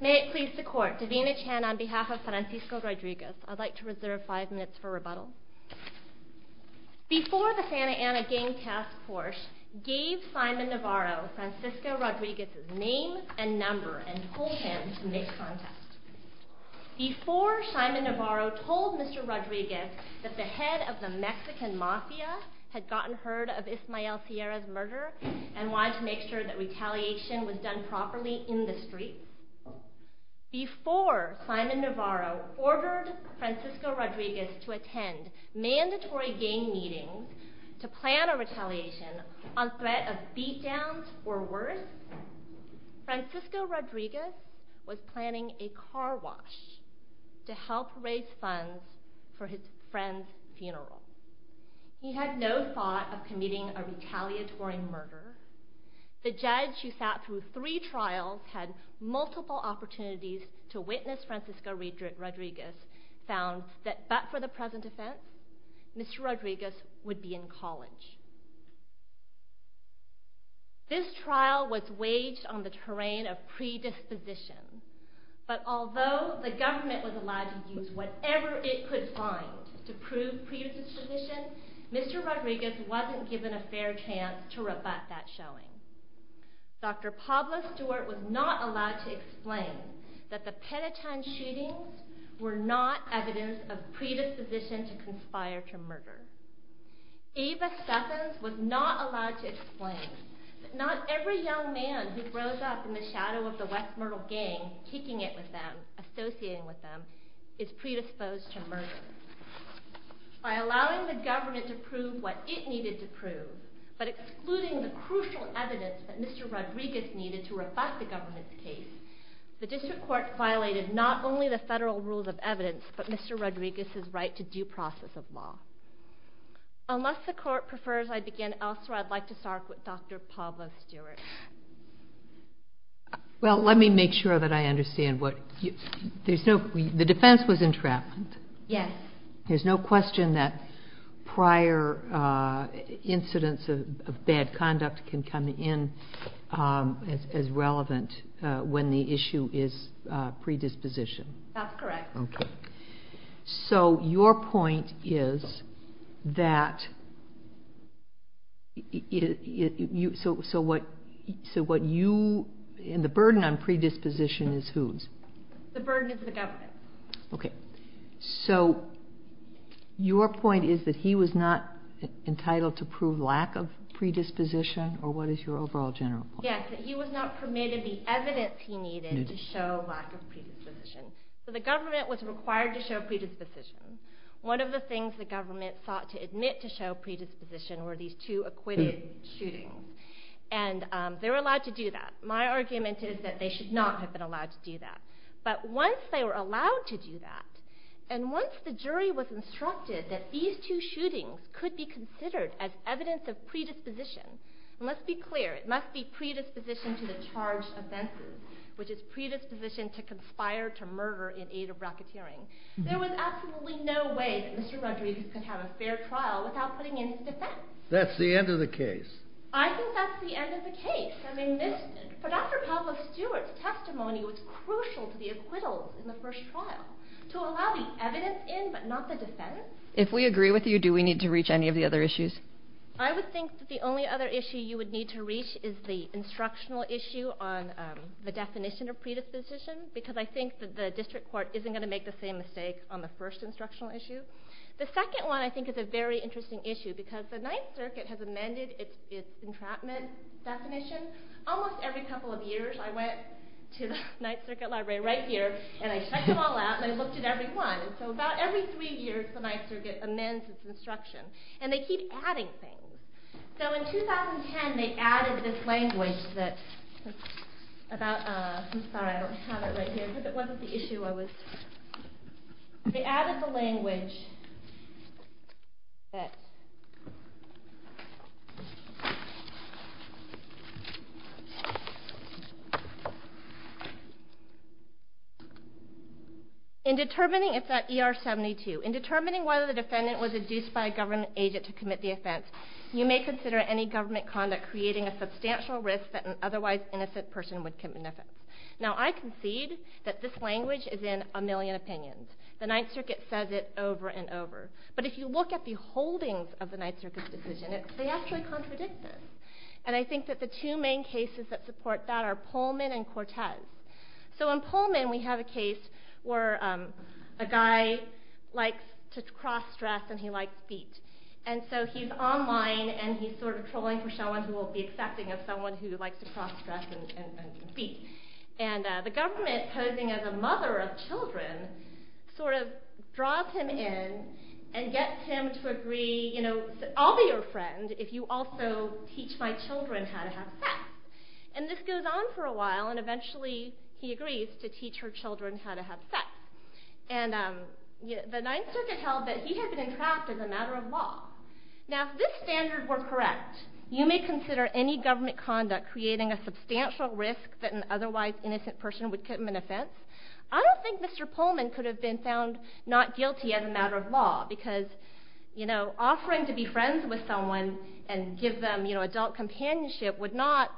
May it please the court, Davina Chan on behalf of Francisco Rodriguez. I'd like to reserve five minutes for rebuttal. Before the Santa Ana Gang Task Force gave Simon Navarro Francisco Rodriguez's name and number and told him to make a contest. Before Simon Navarro told Mr. Rodriguez that the head of the Mexican mafia had gotten heard of Ismael Sierra's and wanted to make sure that retaliation was done properly in the streets. Before Simon Navarro ordered Francisco Rodriguez to attend mandatory gang meetings to plan a retaliation on threat of beat downs or worse. Francisco Rodriguez was planning a car wash to help raise funds for his friend's funeral. He had no thought of committing a retaliatory murder. The judge who sat through three trials had multiple opportunities to witness Francisco Rodriguez found that but for the present offense Mr. Rodriguez would be in college. This trial was waged on the terrain of predisposition. But although the government was allowed to use whatever it could find to prove predisposition, Mr. Rodriguez wasn't given a fair chance to rebut that showing. Dr. Pablo Stewart was not allowed to explain that the Penitentiary shootings were not evidence of predisposition to conspire to murder. Ava Statham was not allowed to explain that not every young man who grows up in the shadow of the West Myrtle gang, kicking it with them, associating with them, is predisposed to murder. By allowing the government to prove what it needed to prove but excluding the crucial evidence that Mr. Rodriguez needed to rebut the government's case, the district court violated not only the federal rules of evidence but Mr. Rodriguez's right to due process of law. Unless the court prefers I begin elsewhere. I'd like to start with Dr. Pablo Stewart. Well, let me make sure that I understand. The defense was entrapment. Yes. There's no question that prior incidents of bad conduct can come in as relevant when the issue is predisposition. That's correct. Okay. So your point is that, so what you, and the burden on predisposition is whose? The burden is the government. Okay. So your point is that he was not entitled to prove lack of predisposition or what is your overall general point? Yes, that he was not permitted to show lack of predisposition. So the government was required to show predisposition. One of the things the government sought to admit to show predisposition were these two acquitted shootings. And they were allowed to do that. My argument is that they should not have been allowed to do that. But once they were allowed to do that, and once the jury was instructed that these two shootings could be considered as evidence of predisposition, and let's be which is predisposition to conspire to murder in aid of racketeering. There was absolutely no way that Mr. Rodriguez could have a fair trial without putting in his defense. That's the end of the case. I think that's the end of the case. I mean, this, for Dr. Pablo Stewart's testimony was crucial to the acquittals in the first trial to allow the evidence in but not the defense. If we agree with you, do we need to reach any of the other issues? I would think that the only other issue you would need to reach is the instructional issue on the definition of predisposition because I think that the district court isn't going to make the same mistake on the first instructional issue. The second one I think is a very interesting issue because the Ninth Circuit has amended its entrapment definition almost every couple of years. I went to the Ninth Circuit Library right here and I checked them all out and I looked at every one. So about every three years the Ninth Circuit amends its instruction. And they keep adding things. So in 2010 they added this language that, I'm sorry I don't have it right here because it wasn't the issue I was, they added the language that, in determining, it's at ER 72, in determining whether the defendant was induced by a government agent to commit the offense, you may consider any government conduct creating a substantial risk that an otherwise innocent person would commit an offense. Now I concede that this language is in a million opinions. The Ninth Circuit says it over and over. But if you look at the holdings of the Ninth Circuit's decision, they actually contradict this. And I think that the two main cases that support that are Pullman and Cortez. So in Pullman we have a case where a guy likes to cross-dress and he likes beat. And so he's online and he's sort of trolling for someone who will be accepting of someone who likes to cross-dress and beat. And the government, posing as a mother of children, sort of draws him in and gets him to agree, I'll be your friend if you also teach my children how to have sex. And this goes on for a while and eventually he agrees to teach her children how to have sex. And the Ninth Circuit held that he had been entrapped as a matter of law. Now if this standard were correct, you may consider any government conduct creating a substantial risk that an otherwise innocent person would commit an offense. I don't think Mr. Pullman could have been found not guilty as a matter of law because offering to be friends with someone and give them adult companionship would not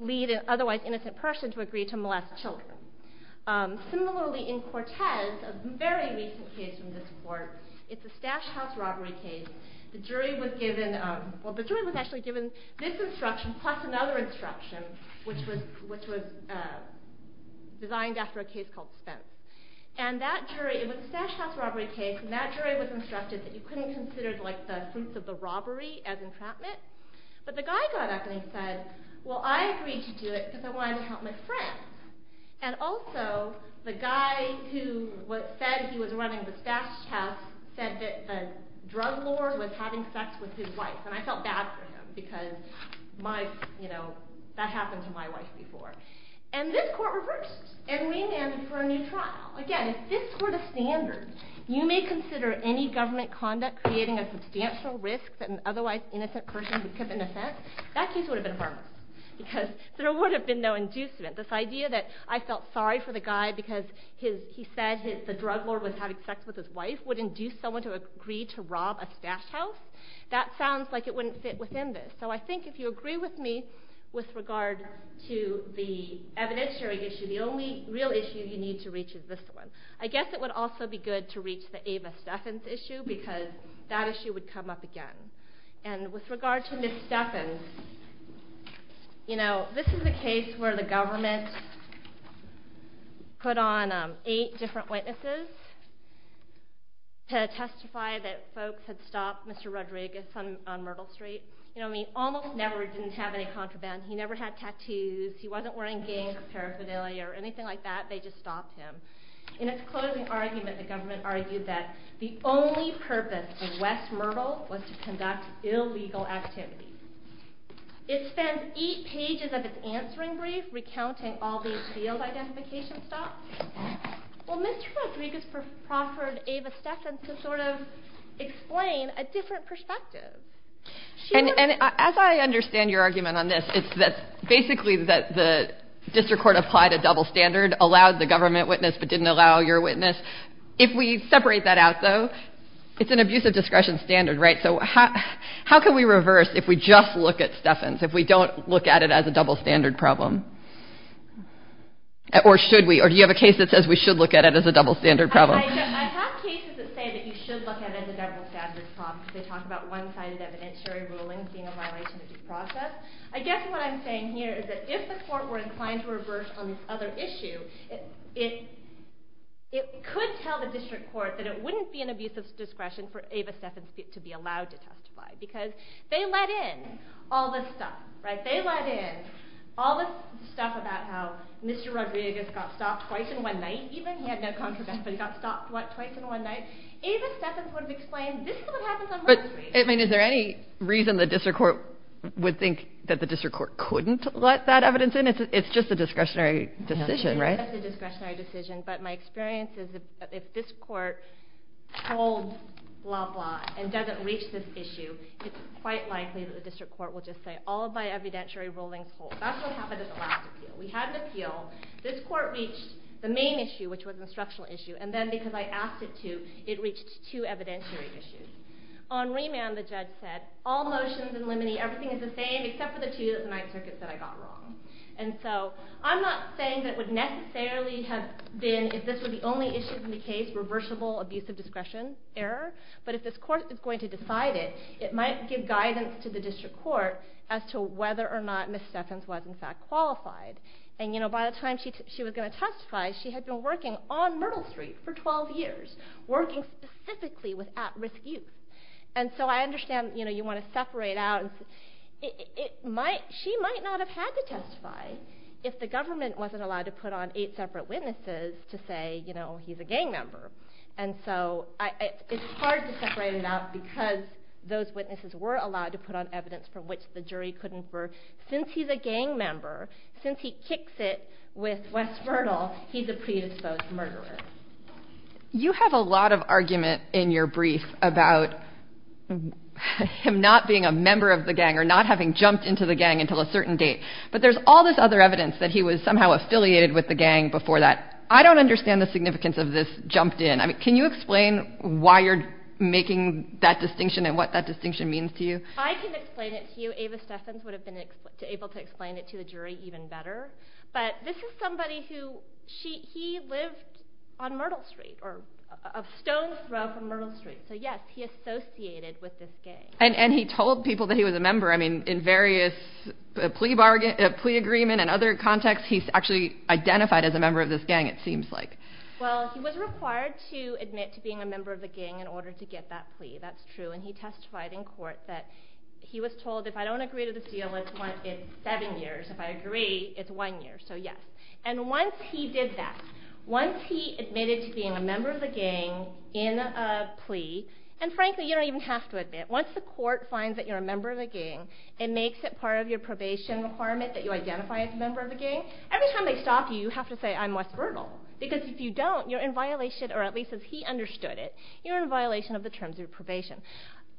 lead an otherwise innocent person to agree to molest children. Similarly in Cortez, a very recent case from this court, it's a stash house robbery case. The jury was given this instruction plus another instruction which was designed after a case called Spence. And that jury, it was a stash house robbery case and that jury was instructed that you couldn't consider the fruits of the robbery as entrapment. But the guy got up and he said, well I agreed to do it because I wanted to help my friends. And also the guy who said he was running the stash house said that the same thing had happened to my wife before. And this court reversed and re-enacted for a new trial. Again, if this were the standard, you may consider any government conduct creating a substantial risk that an otherwise innocent person would commit an offense. That case would have been harmless because there would have been no inducement. This idea that I felt sorry for the guy because he said the drug lord was having sex with his wife would induce someone to agree to rob a stash house, that sounds like it wouldn't fit within this. So I think if you agree with me with regard to the evidentiary issue, the only real issue you need to reach is this one. I guess it would also be good to reach the Ava Steffens issue because that issue would come up again. And with regard to Ms. Steffens, you know this is a case where the government put on eight different witnesses to testify that folks had stopped Mr. Rodriguez on Myrtle Street. He almost never didn't have any contraband, he never had tattoos, he wasn't wearing gangs or paraphernalia or anything like that, they just stopped him. In his closing argument, the government argued that the only purpose of West Myrtle was to conduct illegal activities. It spends eight pages of its answering brief recounting all these field identification stops. Well Mr. Rodriguez proffered Ava Steffens to sort of explain a different perspective. And as I understand your argument on this, it's basically that the district court applied a double standard, allowed the government witness but didn't allow your witness. If we separate that out though, it's an abusive discretion standard, right? So how can we reverse if we just look at Steffens, if we don't look at it as a double standard problem? Or do you have a case that says we should look at it as a double standard problem? I have cases that say that you should look at it as a double standard problem because they talk about one-sided evidentiary rulings being a violation of due process. I guess what I'm saying here is that if the court were inclined to reverse on this other issue, it could tell the district court that it wouldn't be an abusive discretion for Ava Steffens to be allowed to testify because they let in all this stuff, right? They let in all this stuff about how Mr. Rodriguez got stopped twice in one night, even he had no contradiction, but he got stopped twice in one night. Ava Steffens would have explained, this is what happens on most cases. But is there any reason the district court would think that the district court couldn't let that evidence in? It's just a discretionary decision, right? It's just a discretionary decision, but my experience is if this court holds blah, blah and doesn't reach this issue, it's quite likely that the district court will just say, all of my evidentiary rulings hold. That's what happened at the last appeal. We had an appeal, this court reached the main issue, which was an instructional issue, and then because I asked it to, it reached two evidentiary issues. On remand, the judge said, all motions in limine, everything is the same except for the two night circuits that I got wrong. And so I'm not saying that it would necessarily have been, if this were the only issue in the case, reversible abusive discretion error, but if this court is going to decide it, it might give guidance to the district court as to whether or not Ms. Steffens was in fact qualified. And you know, by the time she was going to testify, she had been working on Myrtle Street for 12 years, working specifically with at-risk youth. And so I understand, you know, you want to separate out. She might not have had to testify if the government wasn't allowed to put on eight separate witnesses to say, you know, he's a gang member. And so it's hard to separate it out because those witnesses were allowed to put on evidence for which the jury couldn't. Since he's a gang member, since he kicks it with Wes Myrtle, he's a predisposed murderer. You have a lot of argument in your brief about him not being a member of the gang or not having jumped into the gang until a certain date. But there's all this other evidence that he was somehow affiliated with the gang before that. I don't understand the significance of this jumped in. I mean, can you explain why you're making that distinction and what that distinction means to you? I can explain it to you. Ava Steffens would have been able to explain it to the jury even better. But this is somebody who, he lived on Myrtle Street, or a stone's throw from Myrtle Street. So yes, he associated with this gang. And he told people that he was a member. I mean, in various plea agreement and other contexts, he's actually identified as a member of this gang, it seems like. Well, he was required to admit to being a member of the gang in order to get that plea. That's true. And he testified in court that he was told, if I don't agree to this deal, it's seven years. If I agree, it's one year. So yes. And once he did that, once he admitted to being a member of the gang in a plea, and frankly, you don't even have to admit. Once the court finds that you're a member of the gang, it makes it part of your probation requirement that you identify as a member of the gang. Every time they stop you, you have to say, I'm West Myrtle. Because if you don't, you're in violation of the terms of probation.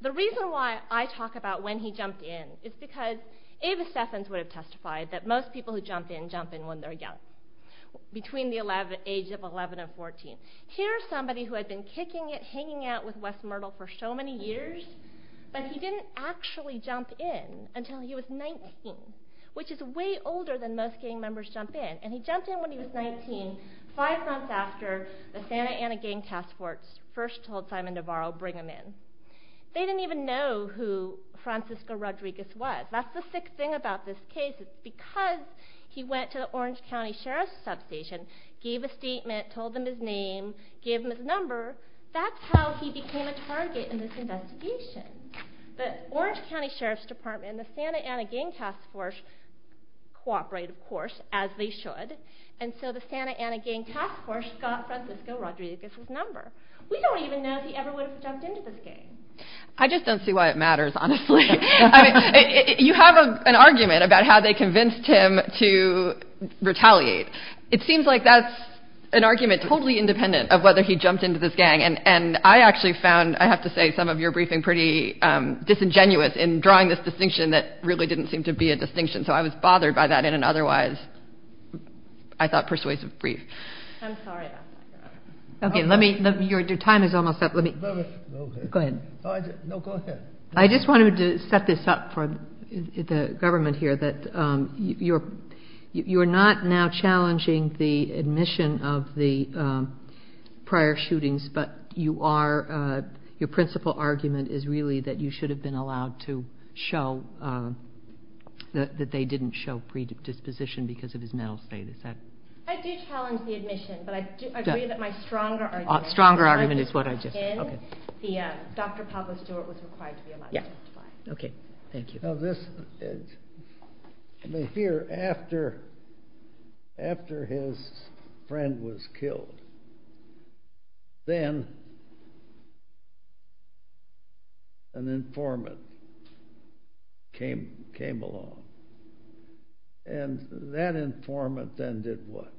The reason why I talk about when he jumped in is because Ava Steffens would have testified that most people who jump in, jump in when they're young. Between the age of 11 and 14. Here's somebody who had been kicking it, hanging out with West Myrtle for so many years, but he didn't actually jump in until he was 19, which is way older than most gang members jump in. And he jumped in when he was 19, five months after the Santa Ana Gang Task Force first told Simon Navarro, bring him in. They didn't even know who Francisco Rodriguez was. That's the sick thing about this case. Because he went to the Orange County Sheriff's substation, gave a statement, told them his name, gave them his number, that's how he became a target in this investigation. The Orange County Sheriff's Department and the Santa Ana Gang Task Force got Francisco Rodriguez's number. We don't even know if he ever would have jumped into this gang. I just don't see why it matters, honestly. You have an argument about how they convinced him to retaliate. It seems like that's an argument totally independent of whether he jumped into this gang. And I actually found, I have to say, some of your briefing pretty disingenuous in drawing this distinction that really didn't seem to be a distinction. So I was bothered by that in an otherwise, I thought, persuasive brief. I'm sorry. Okay, your time is almost up. Go ahead. No, go ahead. I just wanted to set this up for the government here, that you're not now challenging the admission of the prior shootings, but your principal argument is really that you should didn't show predisposition because of his mental state. Is that... I do challenge the admission, but I do agree that my stronger argument... Stronger argument is what I just... Dr. Pablo Stewart was required to be allowed to testify. Okay, thank you. Now this, here after his friend was killed, then an informant came along. And that informant then did what?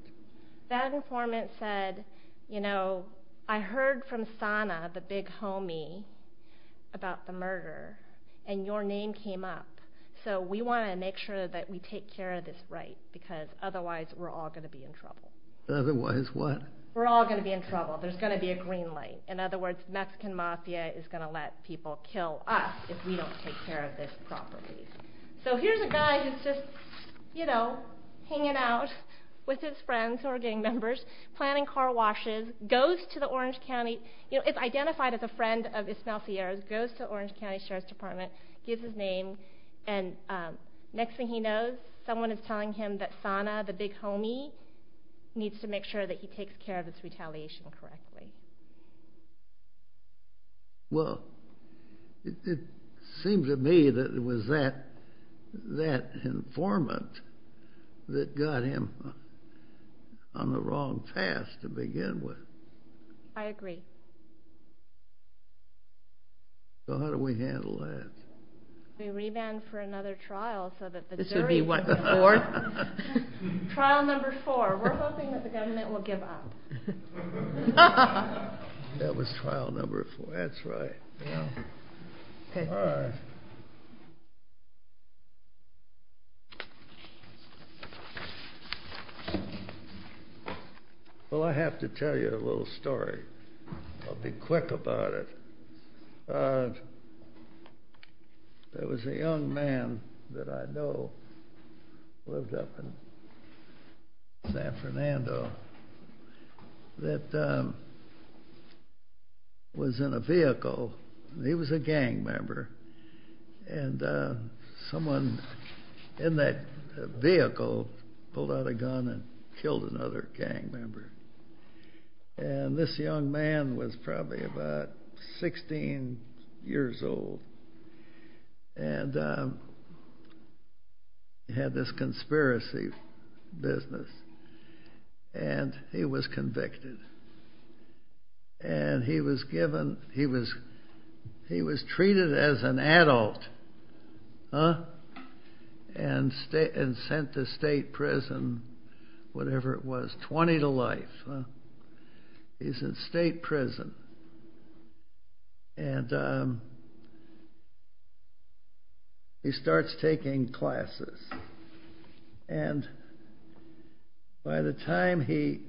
That informant said, you know, I heard from Sana, the big homie, about the murder, and your name came up. So we want to make sure that we take care of this right, because otherwise we're all going to be in trouble. Otherwise what? We're all going to be in trouble. There's going to be a green light. In other words, Mexican mafia is going to let people kill us if we don't take care of this properly. So here's a guy who's just, you know, hanging out with his friends who are gang members, planning car washes, goes to the Orange County, you know, it's identified as a friend of Ismael Sierra's, goes to Orange County Sheriff's Department, gives his name, and next thing he knows, someone is telling him that Sana, the big homie, needs to make sure that he takes care of this retaliation correctly. Well, it seems to me that it was that informant that got him on the wrong path to begin with. I agree. So how do we handle that? We revamp for another trial, so that the jury... This would be what, the fourth? Trial number four. We're hoping that the government will give up. That was trial number four. That's right. Yeah. All right. Well, I have to tell you a little story. I'll be quick about it. There was a young man that I know, lived up in San Fernando, that was in a vehicle. He was a gang member, and someone in that vehicle pulled out a gun and killed another gang member. This young man was probably about 16 years old, and had this conspiracy business, and he was convicted. And he was treated as an adult, and sent to state prison, whatever it was, 20 to life. He's in state prison, and he starts taking classes. And by the time he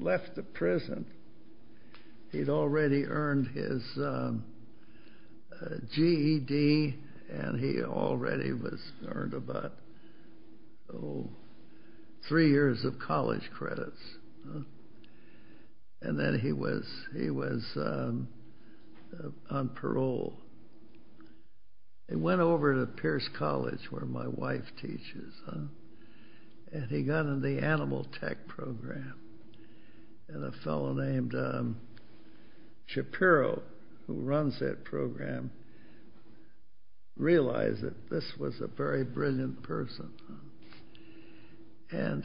left the prison, he'd already earned his GED, and he already was earned about three years of college credits. And then he was on parole. He went over to Pierce College, where my wife teaches, and he got in the animal tech program. And a fellow named Shapiro, who runs that program, realized that this was a very brilliant person. And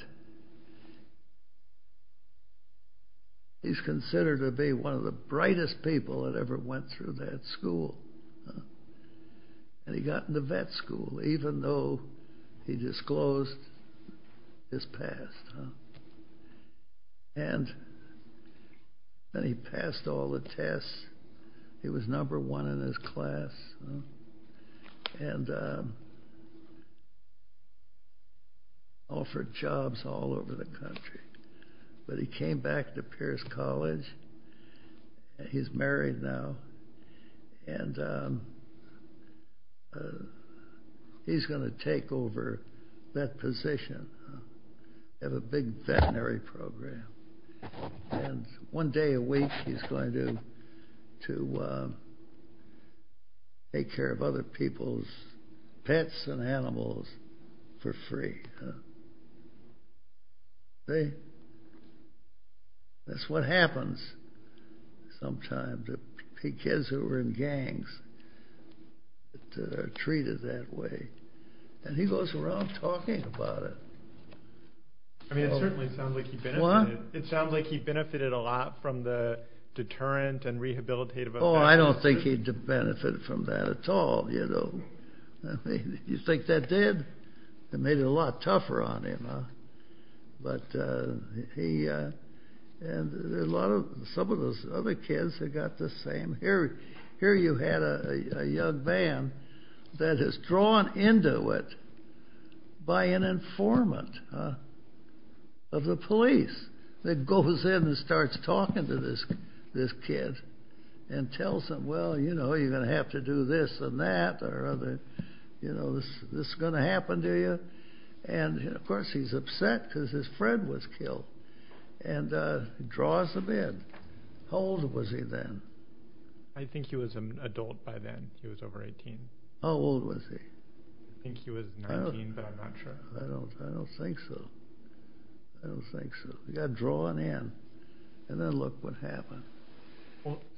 he's considered to be one of the brightest people that ever went through that school. And he got into vet school, even though he disclosed his past. And then he passed all the tests. He was number one in his class. And offered jobs all over the country. But he came back to Pierce College. He's married now, and he's going to take over that position. They have a big veterinary program. And one day a week, he's going to take care of other people's pets and animals for free. See? That's what happens sometimes to kids who are in gangs that are treated that way. And he goes around talking about it. I mean, it certainly sounds like he benefited a lot from the deterrent and rehabilitative. Oh, I don't think he benefited from that at all. You think that did? It made it a lot tougher on him. And some of those other kids have got the same. Here you had a young man that is drawn into it by an informant of the police that goes in and starts talking to this kid and tells him, well, you know, you're going to have to do this and that or this is going to happen to you. And, of course, he's upset because his friend was killed. And draws him in. How old was he then? I think he was an adult by then. He was over 18. How old was he? I think he was 19, but I'm not sure. I don't think so. I don't think so. He got drawn in. And then look what happened.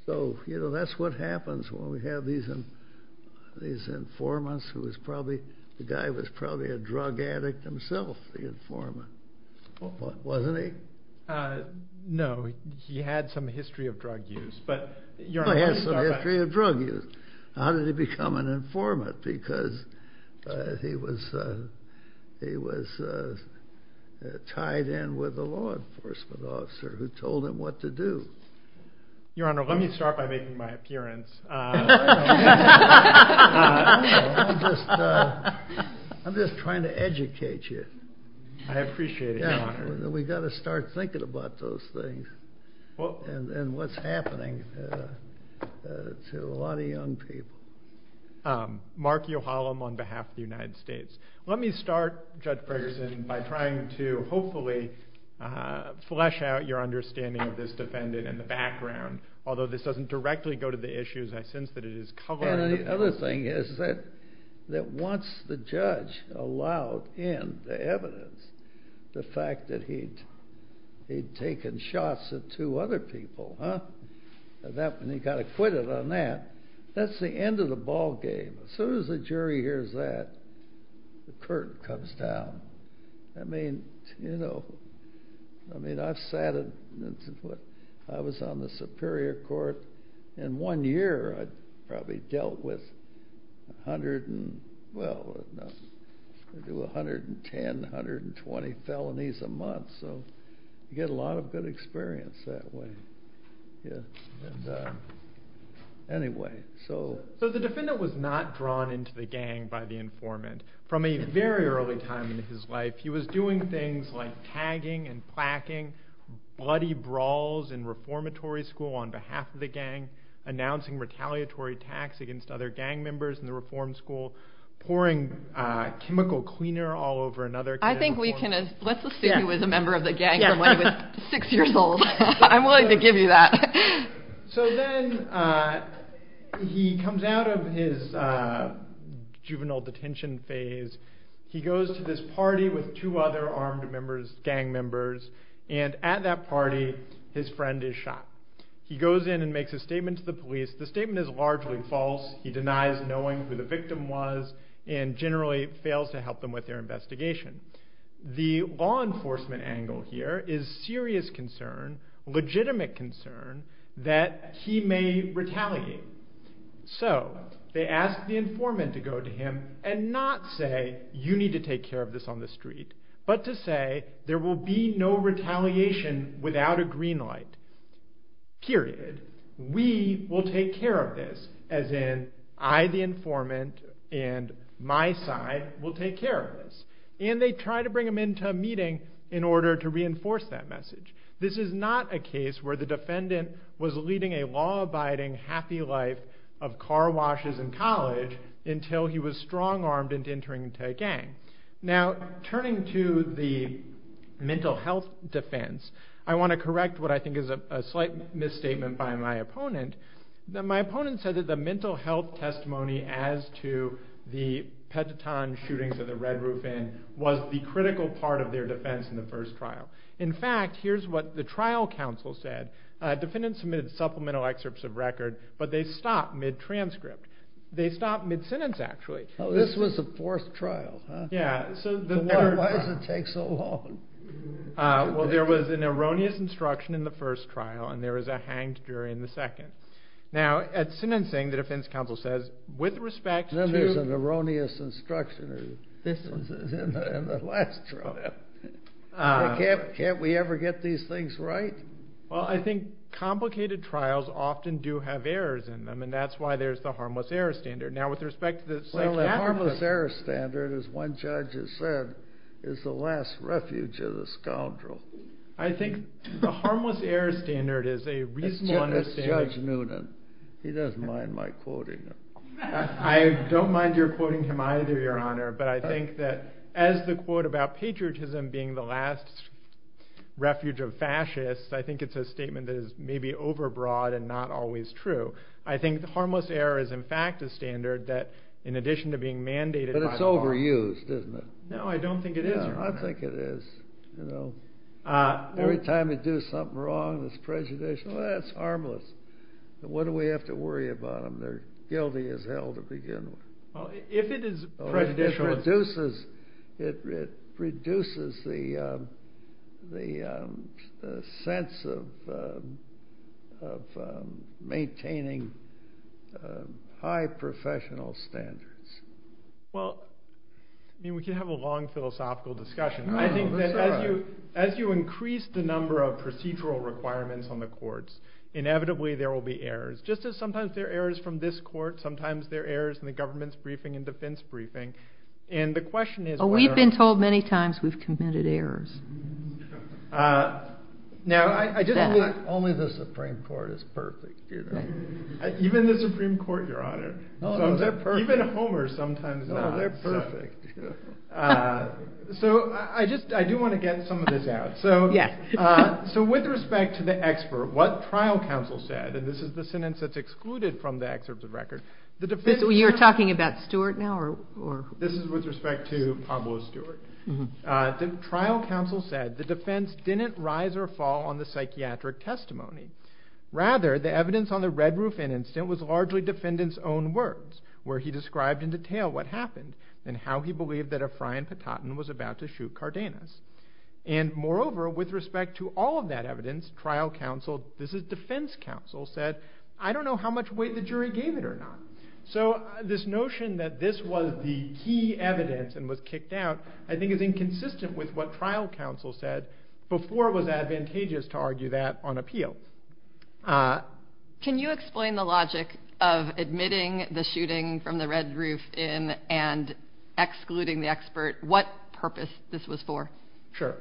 So, you know, that's what happens when we have these informants who is probably, the guy was probably a drug addict himself, the informant. Wasn't he? No, he had some history of drug use. He had some history of drug use. How did he become an informant? Because he was tied in with a law enforcement officer who told him what to do. Your Honor, let me start by making my appearance. I'm just trying to educate you. I appreciate it, Your Honor. We've got to start thinking about those things and what's happening to a lot of young people. Mark Uhallam on behalf of the United States. Let me start, Judge Ferguson, by trying to hopefully flesh out your understanding of this defendant and the background, although this doesn't directly go to the issues. I sense that it is color. And the other thing is that once the judge allowed in the evidence, the fact that he'd taken shots at two other people, and he got acquitted on that, that's the end of the ball game. As soon as the jury hears that, the curtain comes down. I mean, you know, I've sat, I was on the Superior Court, and one year I probably dealt with 110, 120 felonies a month. So you get a lot of good experience that way. Anyway. So the defendant was not drawn into the gang by the informant. From a very early time in his life, he was doing things like tagging and placking, bloody brawls in reformatory school on behalf of the gang, announcing retaliatory tax against other gang members in the reform school, pouring chemical cleaner all over another kid. I think we can, let's assume he was a member of the gang from when he was six years old. I'm willing to give you that. So then he comes out of his juvenile detention phase. He goes to this party with two other armed members, gang members, and at that party his friend is shot. He goes in and makes a statement to the police. The statement is largely false. He denies knowing who the victim was and generally fails to help them with their investigation. The law enforcement angle here is serious concern, legitimate concern that he may retaliate. So they ask the informant to go to him and not say, you need to take care of this on the street, but to say there will be no retaliation without a green light, period. We will take care of this, as in I, the informant, and my side will take care of this. And they try to bring him into a meeting in order to reinforce that message. This is not a case where the defendant was leading a law-abiding, happy life of car washes in college until he was strong-armed and entering into a gang. Now, turning to the mental health defense, I want to correct what I think is a slight misstatement by my opponent. My opponent said that the mental health testimony as to the Petiton shootings at the Red Roof Inn was the critical part of their defense in the first trial. In fact, here's what the trial counsel said. Defendants submitted supplemental excerpts of record, but they stopped mid-transcript. They stopped mid-sentence, actually. This was the fourth trial, huh? Yeah. Why does it take so long? Well, there was an erroneous instruction in the first trial, and there was a hanged jury in the second. Now, at sentencing, the defense counsel says, with respect to— Then there's an erroneous instruction in the last trial. Can't we ever get these things right? Well, I think complicated trials often do have errors in them, and that's why there's the harmless error standard. Now, with respect to the psychiatric— Well, the harmless error standard, as one judge has said, is the last refuge of the scoundrel. I think the harmless error standard is a reasonable understanding— That's Judge Noonan. He doesn't mind my quoting him. I don't mind your quoting him either, Your Honor, but I think that as the quote about patriotism being the last refuge of fascists, I think it's a statement that is maybe overbroad and not always true. I think the harmless error is, in fact, a standard that, in addition to being mandated by the law— But it's overused, isn't it? No, I don't think it is, Your Honor. I think it is. Every time they do something wrong that's prejudicial, that's harmless. What do we have to worry about them? They're guilty as hell to begin with. Well, if it is prejudicial— It reduces the sense of maintaining high professional standards. Well, we could have a long philosophical discussion. I think that as you increase the number of procedural requirements on the courts, inevitably there will be errors. Just as sometimes there are errors from this court, sometimes there are errors in the government's briefing and defense briefing. And the question is whether— Well, we've been told many times we've committed errors. Now, I just— Only the Supreme Court is perfect, you know. Even the Supreme Court, Your Honor. No, they're perfect. Even Homer sometimes is not. No, they're perfect. So I do want to get some of this out. So with respect to the expert, what trial counsel said— This is the sentence that's excluded from the excerpt of the record. You're talking about Stewart now? This is with respect to Pablo Stewart. Trial counsel said, The defense didn't rise or fall on the psychiatric testimony. Rather, the evidence on the Red Roof incident was largely defendants' own words, where he described in detail what happened and how he believed that Efrain Patatin was about to shoot Cardenas. And moreover, with respect to all of that evidence, trial counsel—this is defense counsel—said, I don't know how much weight the jury gave it or not. So this notion that this was the key evidence and was kicked out I think is inconsistent with what trial counsel said before it was advantageous to argue that on appeal. Can you explain the logic of admitting the shooting from the Red Roof and excluding the expert? What purpose this was for? Sure.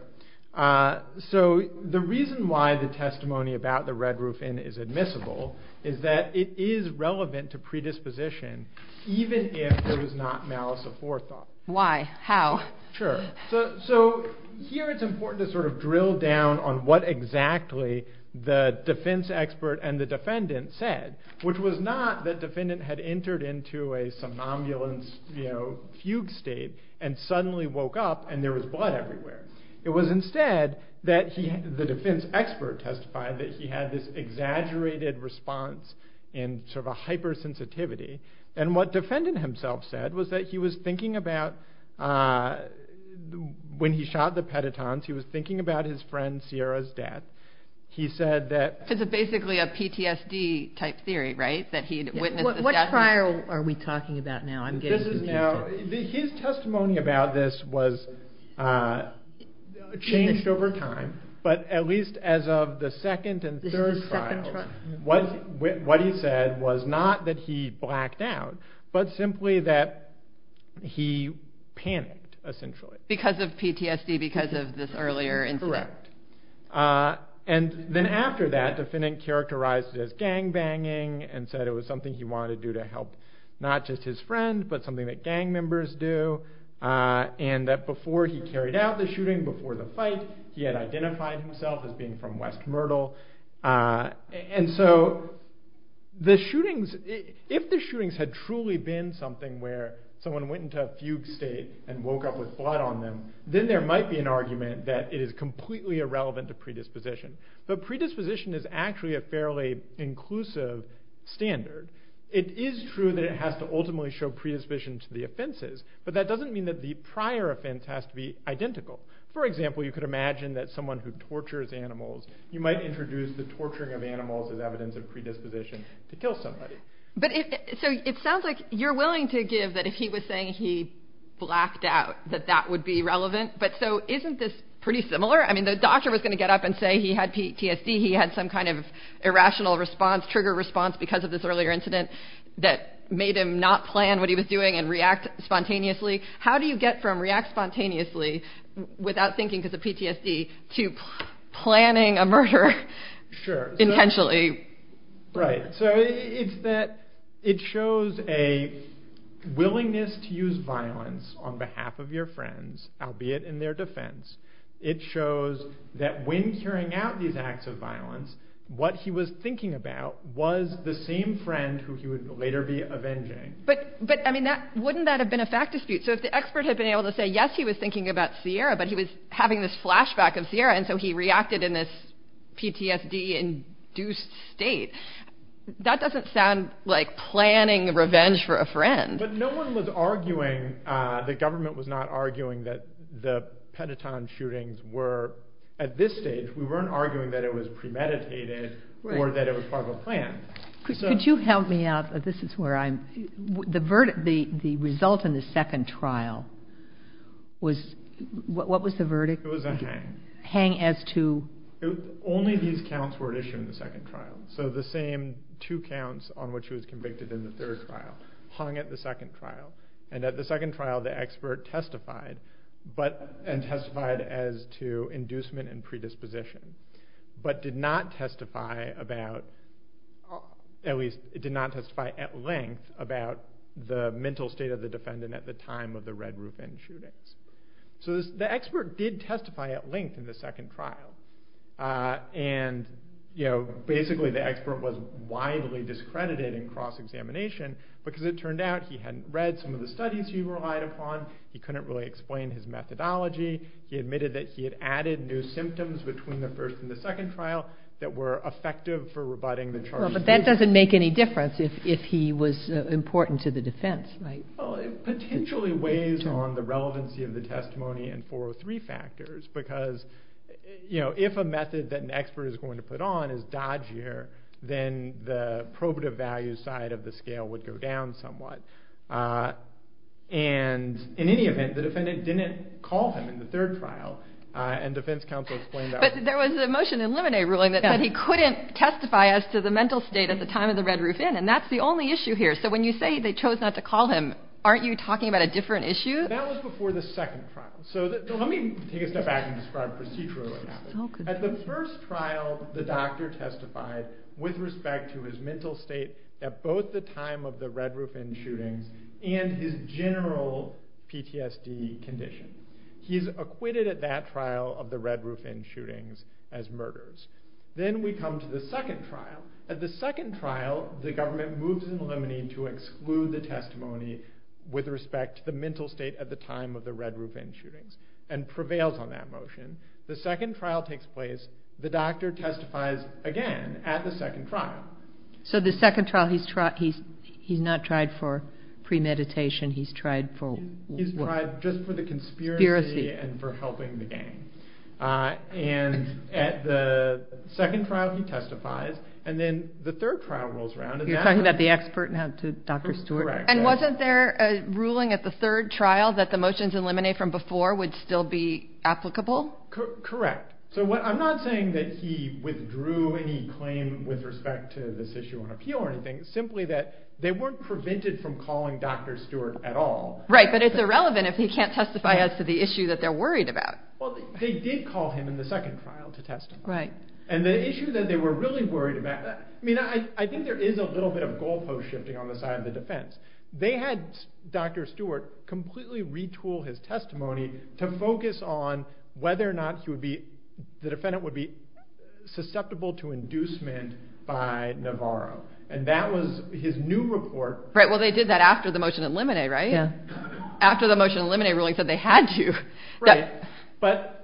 So the reason why the testimony about the Red Roof Inn is admissible is that it is relevant to predisposition even if there was not malice aforethought. Why? How? Sure. So here it's important to sort of drill down on what exactly the defense expert and the defendant said, which was not that defendant had entered into a somnambulance fugue state and suddenly woke up and there was blood everywhere. It was instead that the defense expert testified that he had this exaggerated response and sort of a hypersensitivity. And what defendant himself said was that he was thinking about, when he shot the petatons, he was thinking about his friend Sierra's death. He said that— So it's basically a PTSD-type theory, right? That he witnessed the death of— What trial are we talking about now? I'm getting confused here. His testimony about this changed over time, but at least as of the second and third trial, what he said was not that he blacked out, but simply that he panicked, essentially. Because of PTSD, because of this earlier incident. Correct. And then after that, the defendant characterized it as gangbanging and said it was something he wanted to do to help not just his friend, but something that gang members do. And that before he carried out the shooting, before the fight, he had identified himself as being from West Myrtle. And so, if the shootings had truly been something where someone went into a fugue state and woke up with blood on them, then there might be an argument that it is completely irrelevant to predisposition. But predisposition is actually a fairly inclusive standard. It is true that it has to ultimately show predisposition to the offenses, but that doesn't mean that the prior offense has to be identical. For example, you could imagine that someone who tortures animals, you might introduce the torturing of animals as evidence of predisposition to kill somebody. But it sounds like you're willing to give that if he was saying he blacked out, that that would be relevant. But so, isn't this pretty similar? I mean, the doctor was going to get up and say he had PTSD, he had some kind of irrational response, trigger response, because of this earlier incident that made him not plan what he was doing and react spontaneously. How do you get from react spontaneously without thinking because of PTSD to planning a murder intentionally? Right. So, it's that it shows a willingness to use violence on behalf of your friends, albeit in their defense. It shows that when carrying out these acts of violence, what he was thinking about was the same friend who he would later be avenging. But, I mean, wouldn't that have been a fact dispute? So, if the expert had been able to say, yes, he was thinking about Sierra, but he was having this flashback of Sierra, and so he reacted in this PTSD-induced state, that doesn't sound like planning revenge for a friend. But no one was arguing, the government was not arguing, that the Pentaton shootings were, at this stage, we weren't arguing that it was premeditated or that it was part of a plan. Could you help me out? This is where I'm, the result in the second trial was, what was the verdict? It was a hang. Hang as to? Only these counts were issued in the second trial. So, the same two counts on which he was convicted in the third trial hung at the second trial. And at the second trial, the expert testified, and testified as to inducement and predisposition, but did not testify about, at least, did not testify at length about the mental state of the defendant at the time of the Red Roof Inn shootings. So, the expert did testify at length in the second trial. And, you know, basically the expert was widely discredited in cross-examination, because it turned out he hadn't read some of the studies he relied upon, he couldn't really explain his methodology, he admitted that he had added new symptoms between the first and the second trial that were effective for rebutting the charges. But that doesn't make any difference if he was important to the defense, right? Well, it potentially weighs on the relevancy of the testimony in 403 factors, because, you know, if a method that an expert is going to put on is dodgier, then the probative value side of the scale would go down somewhat. And, in any event, the defendant didn't call him in the third trial, and defense counsel explained that. But there was a motion in Lemonet ruling that said he couldn't testify as to the mental state at the time of the Red Roof Inn, and that's the only issue here. So, when you say they chose not to call him, aren't you talking about a different issue? That was before the second trial. So, let me take a step back and describe procedurally what happened. At the first trial, the doctor testified with respect to his mental state at both the time of the Red Roof Inn shootings and his general PTSD condition. He's acquitted at that trial of the Red Roof Inn shootings as murderers. Then we come to the second trial. At the second trial, the government moves in Lemonet to exclude the testimony with respect to the mental state at the time of the Red Roof Inn shootings and prevails on that motion. The second trial takes place. The doctor testifies again at the second trial. So, the second trial, he's not tried for premeditation. He's tried for what? He's tried just for the conspiracy and for helping the gang. And at the second trial, he testifies. And then the third trial rolls around. You're talking about the expert now to Dr. Stewart. Correct. And wasn't there a ruling at the third trial that the motions in Lemonet from before would still be applicable? Correct. So, I'm not saying that he withdrew any claim with respect to this issue on appeal or anything. It's simply that they weren't prevented from calling Dr. Stewart at all. Right, but it's irrelevant if he can't testify as to the issue that they're worried about. Well, they did call him in the second trial to testify. Right. And the issue that they were really worried about, I mean, I think there is a little bit of goalpost shifting on the side of the defense. They had Dr. Stewart completely retool his testimony to focus on whether or not the defendant would be susceptible to inducement by Navarro. And that was his new report. Right, well, they did that after the motion in Lemonet, right? Yeah. After the motion in Lemonet ruling said they had to. Right. But,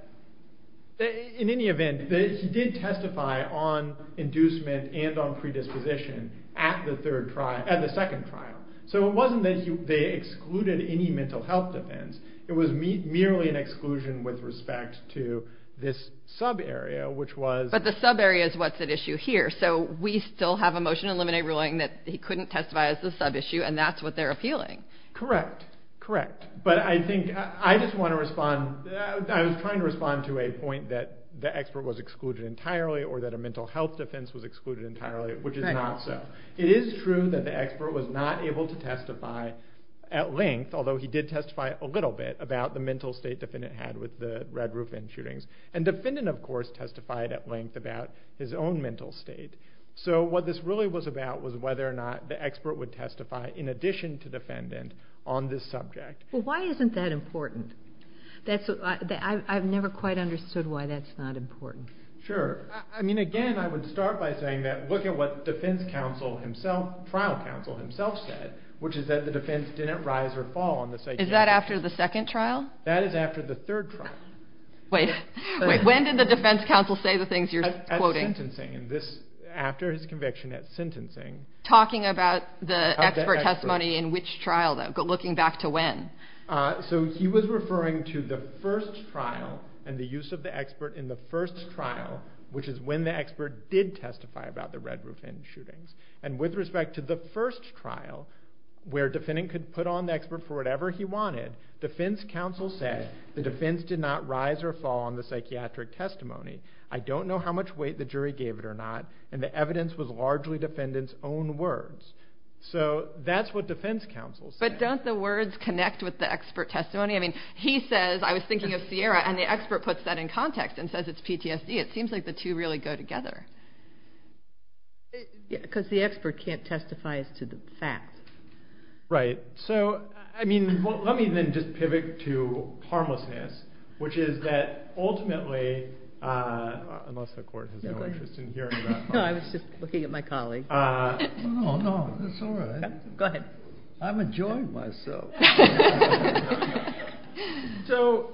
in any event, he did testify on inducement and on predisposition at the second trial. So, it wasn't that they excluded any mental health defense. It was merely an exclusion with respect to this sub-area, which was... But the sub-area is what's at issue here. So, we still have a motion in Lemonet ruling that he couldn't testify as a sub-issue, and that's what they're appealing. Correct, correct. But I think I just want to respond, I was trying to respond to a point that the expert was excluded entirely or that a mental health defense was excluded entirely, which is not so. It is true that the expert was not able to testify at length, although he did testify a little bit about the mental state the defendant had with the Red Roof Inn shootings. And the defendant, of course, testified at length about his own mental state. So, what this really was about was whether or not the expert would testify, in addition to the defendant, on this subject. Well, why isn't that important? I've never quite understood why that's not important. Sure. I mean, again, I would start by saying that, look at what the trial counsel himself said, which is that the defense didn't rise or fall on this idea. Is that after the second trial? That is after the third trial. Wait. Wait, when did the defense counsel say the things you're quoting? After his conviction at sentencing. Talking about the expert testimony in which trial, though? Looking back to when? So, he was referring to the first trial and the use of the expert in the first trial, which is when the expert did testify about the Red Roof Inn shootings. And with respect to the first trial, where a defendant could put on the expert for whatever he wanted, defense counsel said the defense did not rise or fall on the psychiatric testimony. I don't know how much weight the jury gave it or not, and the evidence was largely defendant's own words. So, that's what defense counsel said. But don't the words connect with the expert testimony? I mean, he says, I was thinking of Sierra, and the expert puts that in context and says it's PTSD. It seems like the two really go together. Yeah, because the expert can't testify as to the facts. Right. So, I mean, let me then just pivot to harmlessness, which is that ultimately, unless the court has no interest in hearing about harmlessness. No, I was just looking at my colleague. No, no, it's all right. Go ahead. I'm enjoying myself. So,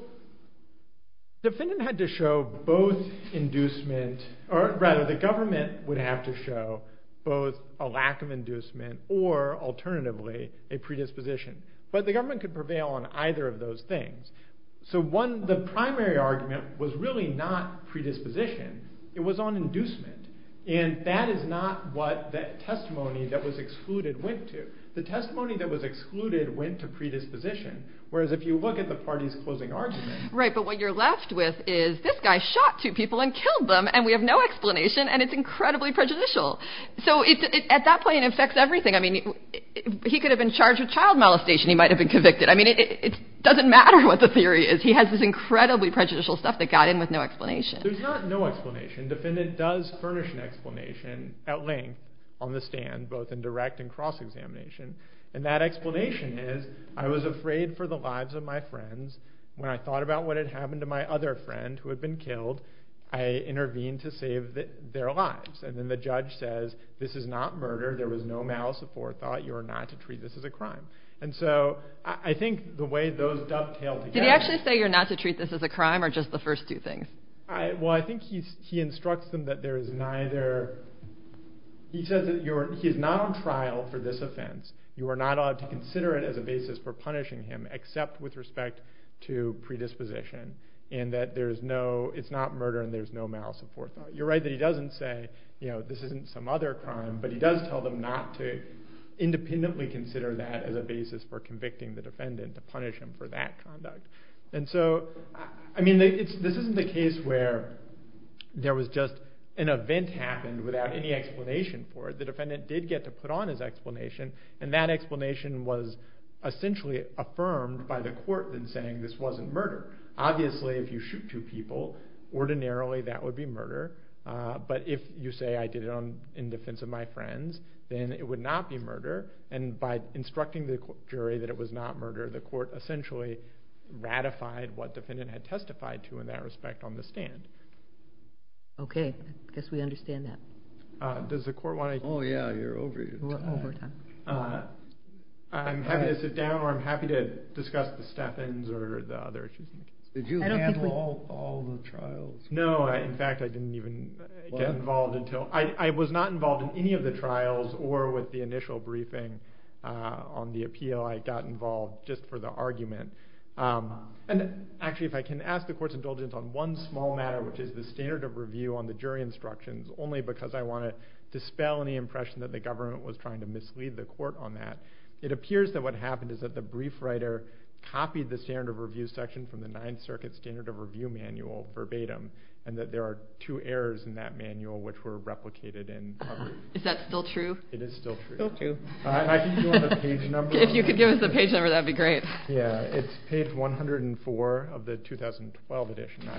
the defendant had to show both inducement, or rather, the government would have to show both a lack of inducement or, alternatively, a predisposition. But the government could prevail on either of those things. So, one, the primary argument was really not predisposition. It was on inducement. And that is not what that testimony that was excluded went to. The testimony that was excluded went to predisposition, whereas if you look at the party's closing argument. Right, but what you're left with is, this guy shot two people and killed them, and we have no explanation, and it's incredibly prejudicial. So, at that point, it affects everything. I mean, he could have been charged with child molestation. He might have been convicted. I mean, it doesn't matter what the theory is. He has this incredibly prejudicial stuff that got in with no explanation. There's not no explanation. Defendant does furnish an explanation at length on the stand, both in direct and cross-examination. And that explanation is, I was afraid for the lives of my friends. When I thought about what had happened to my other friend who had been killed, I intervened to save their lives. And then the judge says, This is not murder. There was no malice aforethought. You are not to treat this as a crime. And so, I think the way those dovetail together. Did he actually say, You're not to treat this as a crime, or just the first two things? Well, I think he instructs them that there is neither. He says that he is not on trial for this offense. You are not allowed to consider it as a basis for punishing him, except with respect to predisposition. And that it's not murder and there's no malice aforethought. You're right that he doesn't say, This isn't some other crime. But he does tell them not to independently consider that as a basis for convicting the defendant, to punish him for that conduct. And so, I mean, this isn't the case where there was just an event happened without any explanation for it. The defendant did get to put on his explanation. And that explanation was essentially affirmed by the court in saying this wasn't murder. Obviously, if you shoot two people, ordinarily that would be murder. But if you say I did it in defense of my friends, then it would not be murder. And by instructing the jury that it was not murder, the court essentially ratified what the defendant had testified to in that respect on the stand. Okay. I guess we understand that. Does the court want to... Oh, yeah. You're over your time. I'm happy to sit down or I'm happy to discuss the step-ins or the other issues in the case. Did you handle all the trials? No. In fact, I didn't even get involved until... I was not involved in any of the trials or with the initial briefing on the appeal. I got involved just for the argument. And actually, if I can ask the court's indulgence on one small matter, which is the standard of review on the jury instructions, only because I want to dispel any impression that the government was trying to mislead the court on that. It appears that what happened is that the brief writer copied the standard of review section from the Ninth Circuit standard of review manual verbatim and that there are two errors in that manual which were replicated in public. Is that still true? It is still true. I think you want the page number? If you could give us the page number, that would be great. Yeah, it's page 104 of the 2012 edition.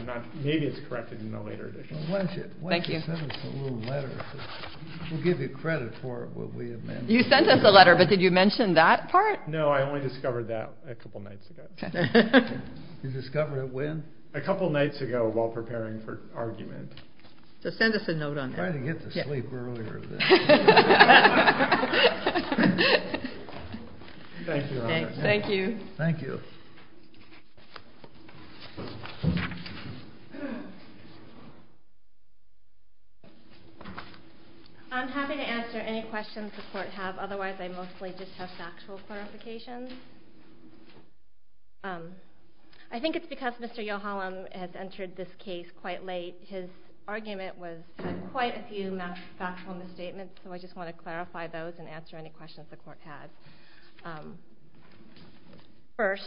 Maybe it's corrected in a later edition. Why don't you send us a little letter? We'll give you credit for it. You sent us a letter, but did you mention that part? No, I only discovered that a couple nights ago. You discovered it when? A couple nights ago while preparing for argument. So send us a note on that. I'm trying to get to sleep earlier. Thank you, Your Honor. Thank you. Thank you. I'm happy to answer any questions the court have. Otherwise, I mostly just have factual clarifications. I think it's because Mr. Yochalam has entered this case quite late. His argument was quite a few factual misstatements, so I just want to clarify those and answer any questions the court has. First,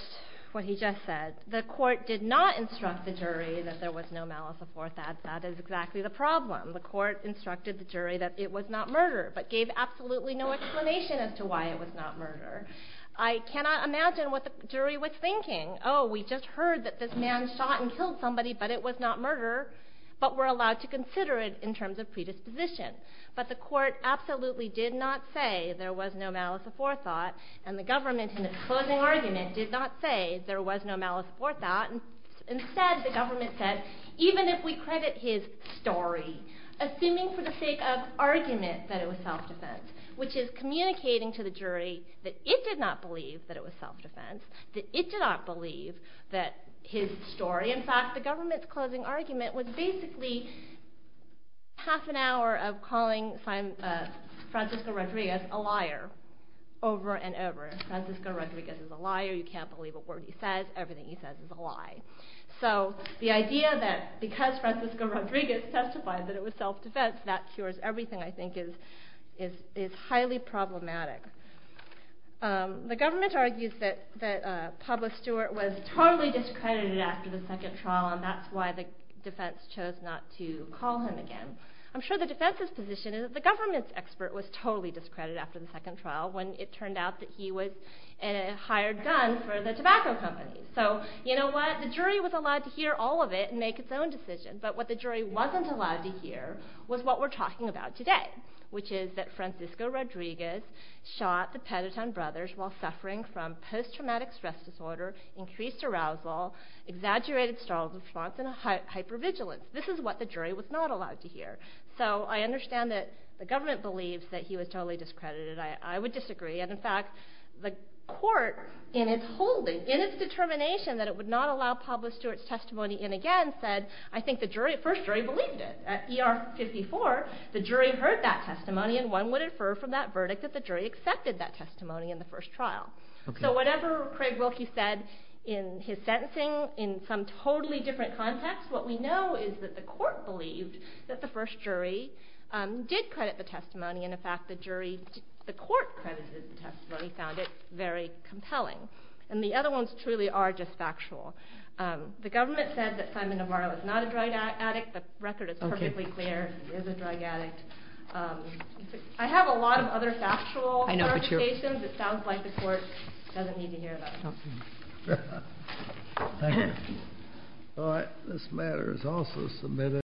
what he just said. The court did not instruct the jury that there was no malice aforethought. That is exactly the problem. The court instructed the jury that it was not murder, but gave absolutely no explanation as to why it was not murder. I cannot imagine what the jury was thinking. Oh, we just heard that this man shot and killed somebody, but it was not murder, but we're allowed to consider it in terms of predisposition. But the court absolutely did not say there was no malice aforethought, and the government, in its closing argument, did not say there was no malice aforethought. Instead, the government said, even if we credit his story, assuming for the sake of argument that it was self-defense, which is communicating to the jury that it did not believe that it was self-defense, that it did not believe that his story, in fact, the government's closing argument, was basically half an hour of calling Francisco Rodriguez a liar over and over. Francisco Rodriguez is a liar. You can't believe a word he says. Everything he says is a lie. So the idea that because Francisco Rodriguez testified that it was self-defense, that cures everything, I think, is highly problematic. The government argues that Pablo Stewart was totally discredited after the second trial, and that's why the defense chose not to call him again. I'm sure the defense's position is that the government's expert was totally discredited after the second trial, when it turned out that he had hired guns for the tobacco companies. So, you know what? The jury was allowed to hear all of it and make its own decision, but what the jury wasn't allowed to hear was what we're talking about today, which is that Francisco Rodriguez shot the Petitone brothers while suffering from post-traumatic stress disorder, increased arousal, exaggerated strong response, and hypervigilance. This is what the jury was not allowed to hear. So I understand that the government believes that he was totally discredited. I would disagree. And in fact, the court, in its holding, in its determination that it would not allow Pablo Stewart's testimony in again, said, I think the first jury believed it. At ER 54, the jury heard that testimony and one would infer from that verdict that the jury accepted that testimony in the first trial. So whatever Craig Wilkie said in his sentencing, in some totally different context, what we know is that the court believed that the first jury did credit the testimony and, in fact, the court credited the testimony, found it very compelling. And the other ones truly are just factual. The government said that Simon Navarro is not a drug addict. The record is perfectly clear. He is a drug addict. I have a lot of other factual clarifications. It sounds like the court doesn't need to hear them. Thank you. This matter is also submitted.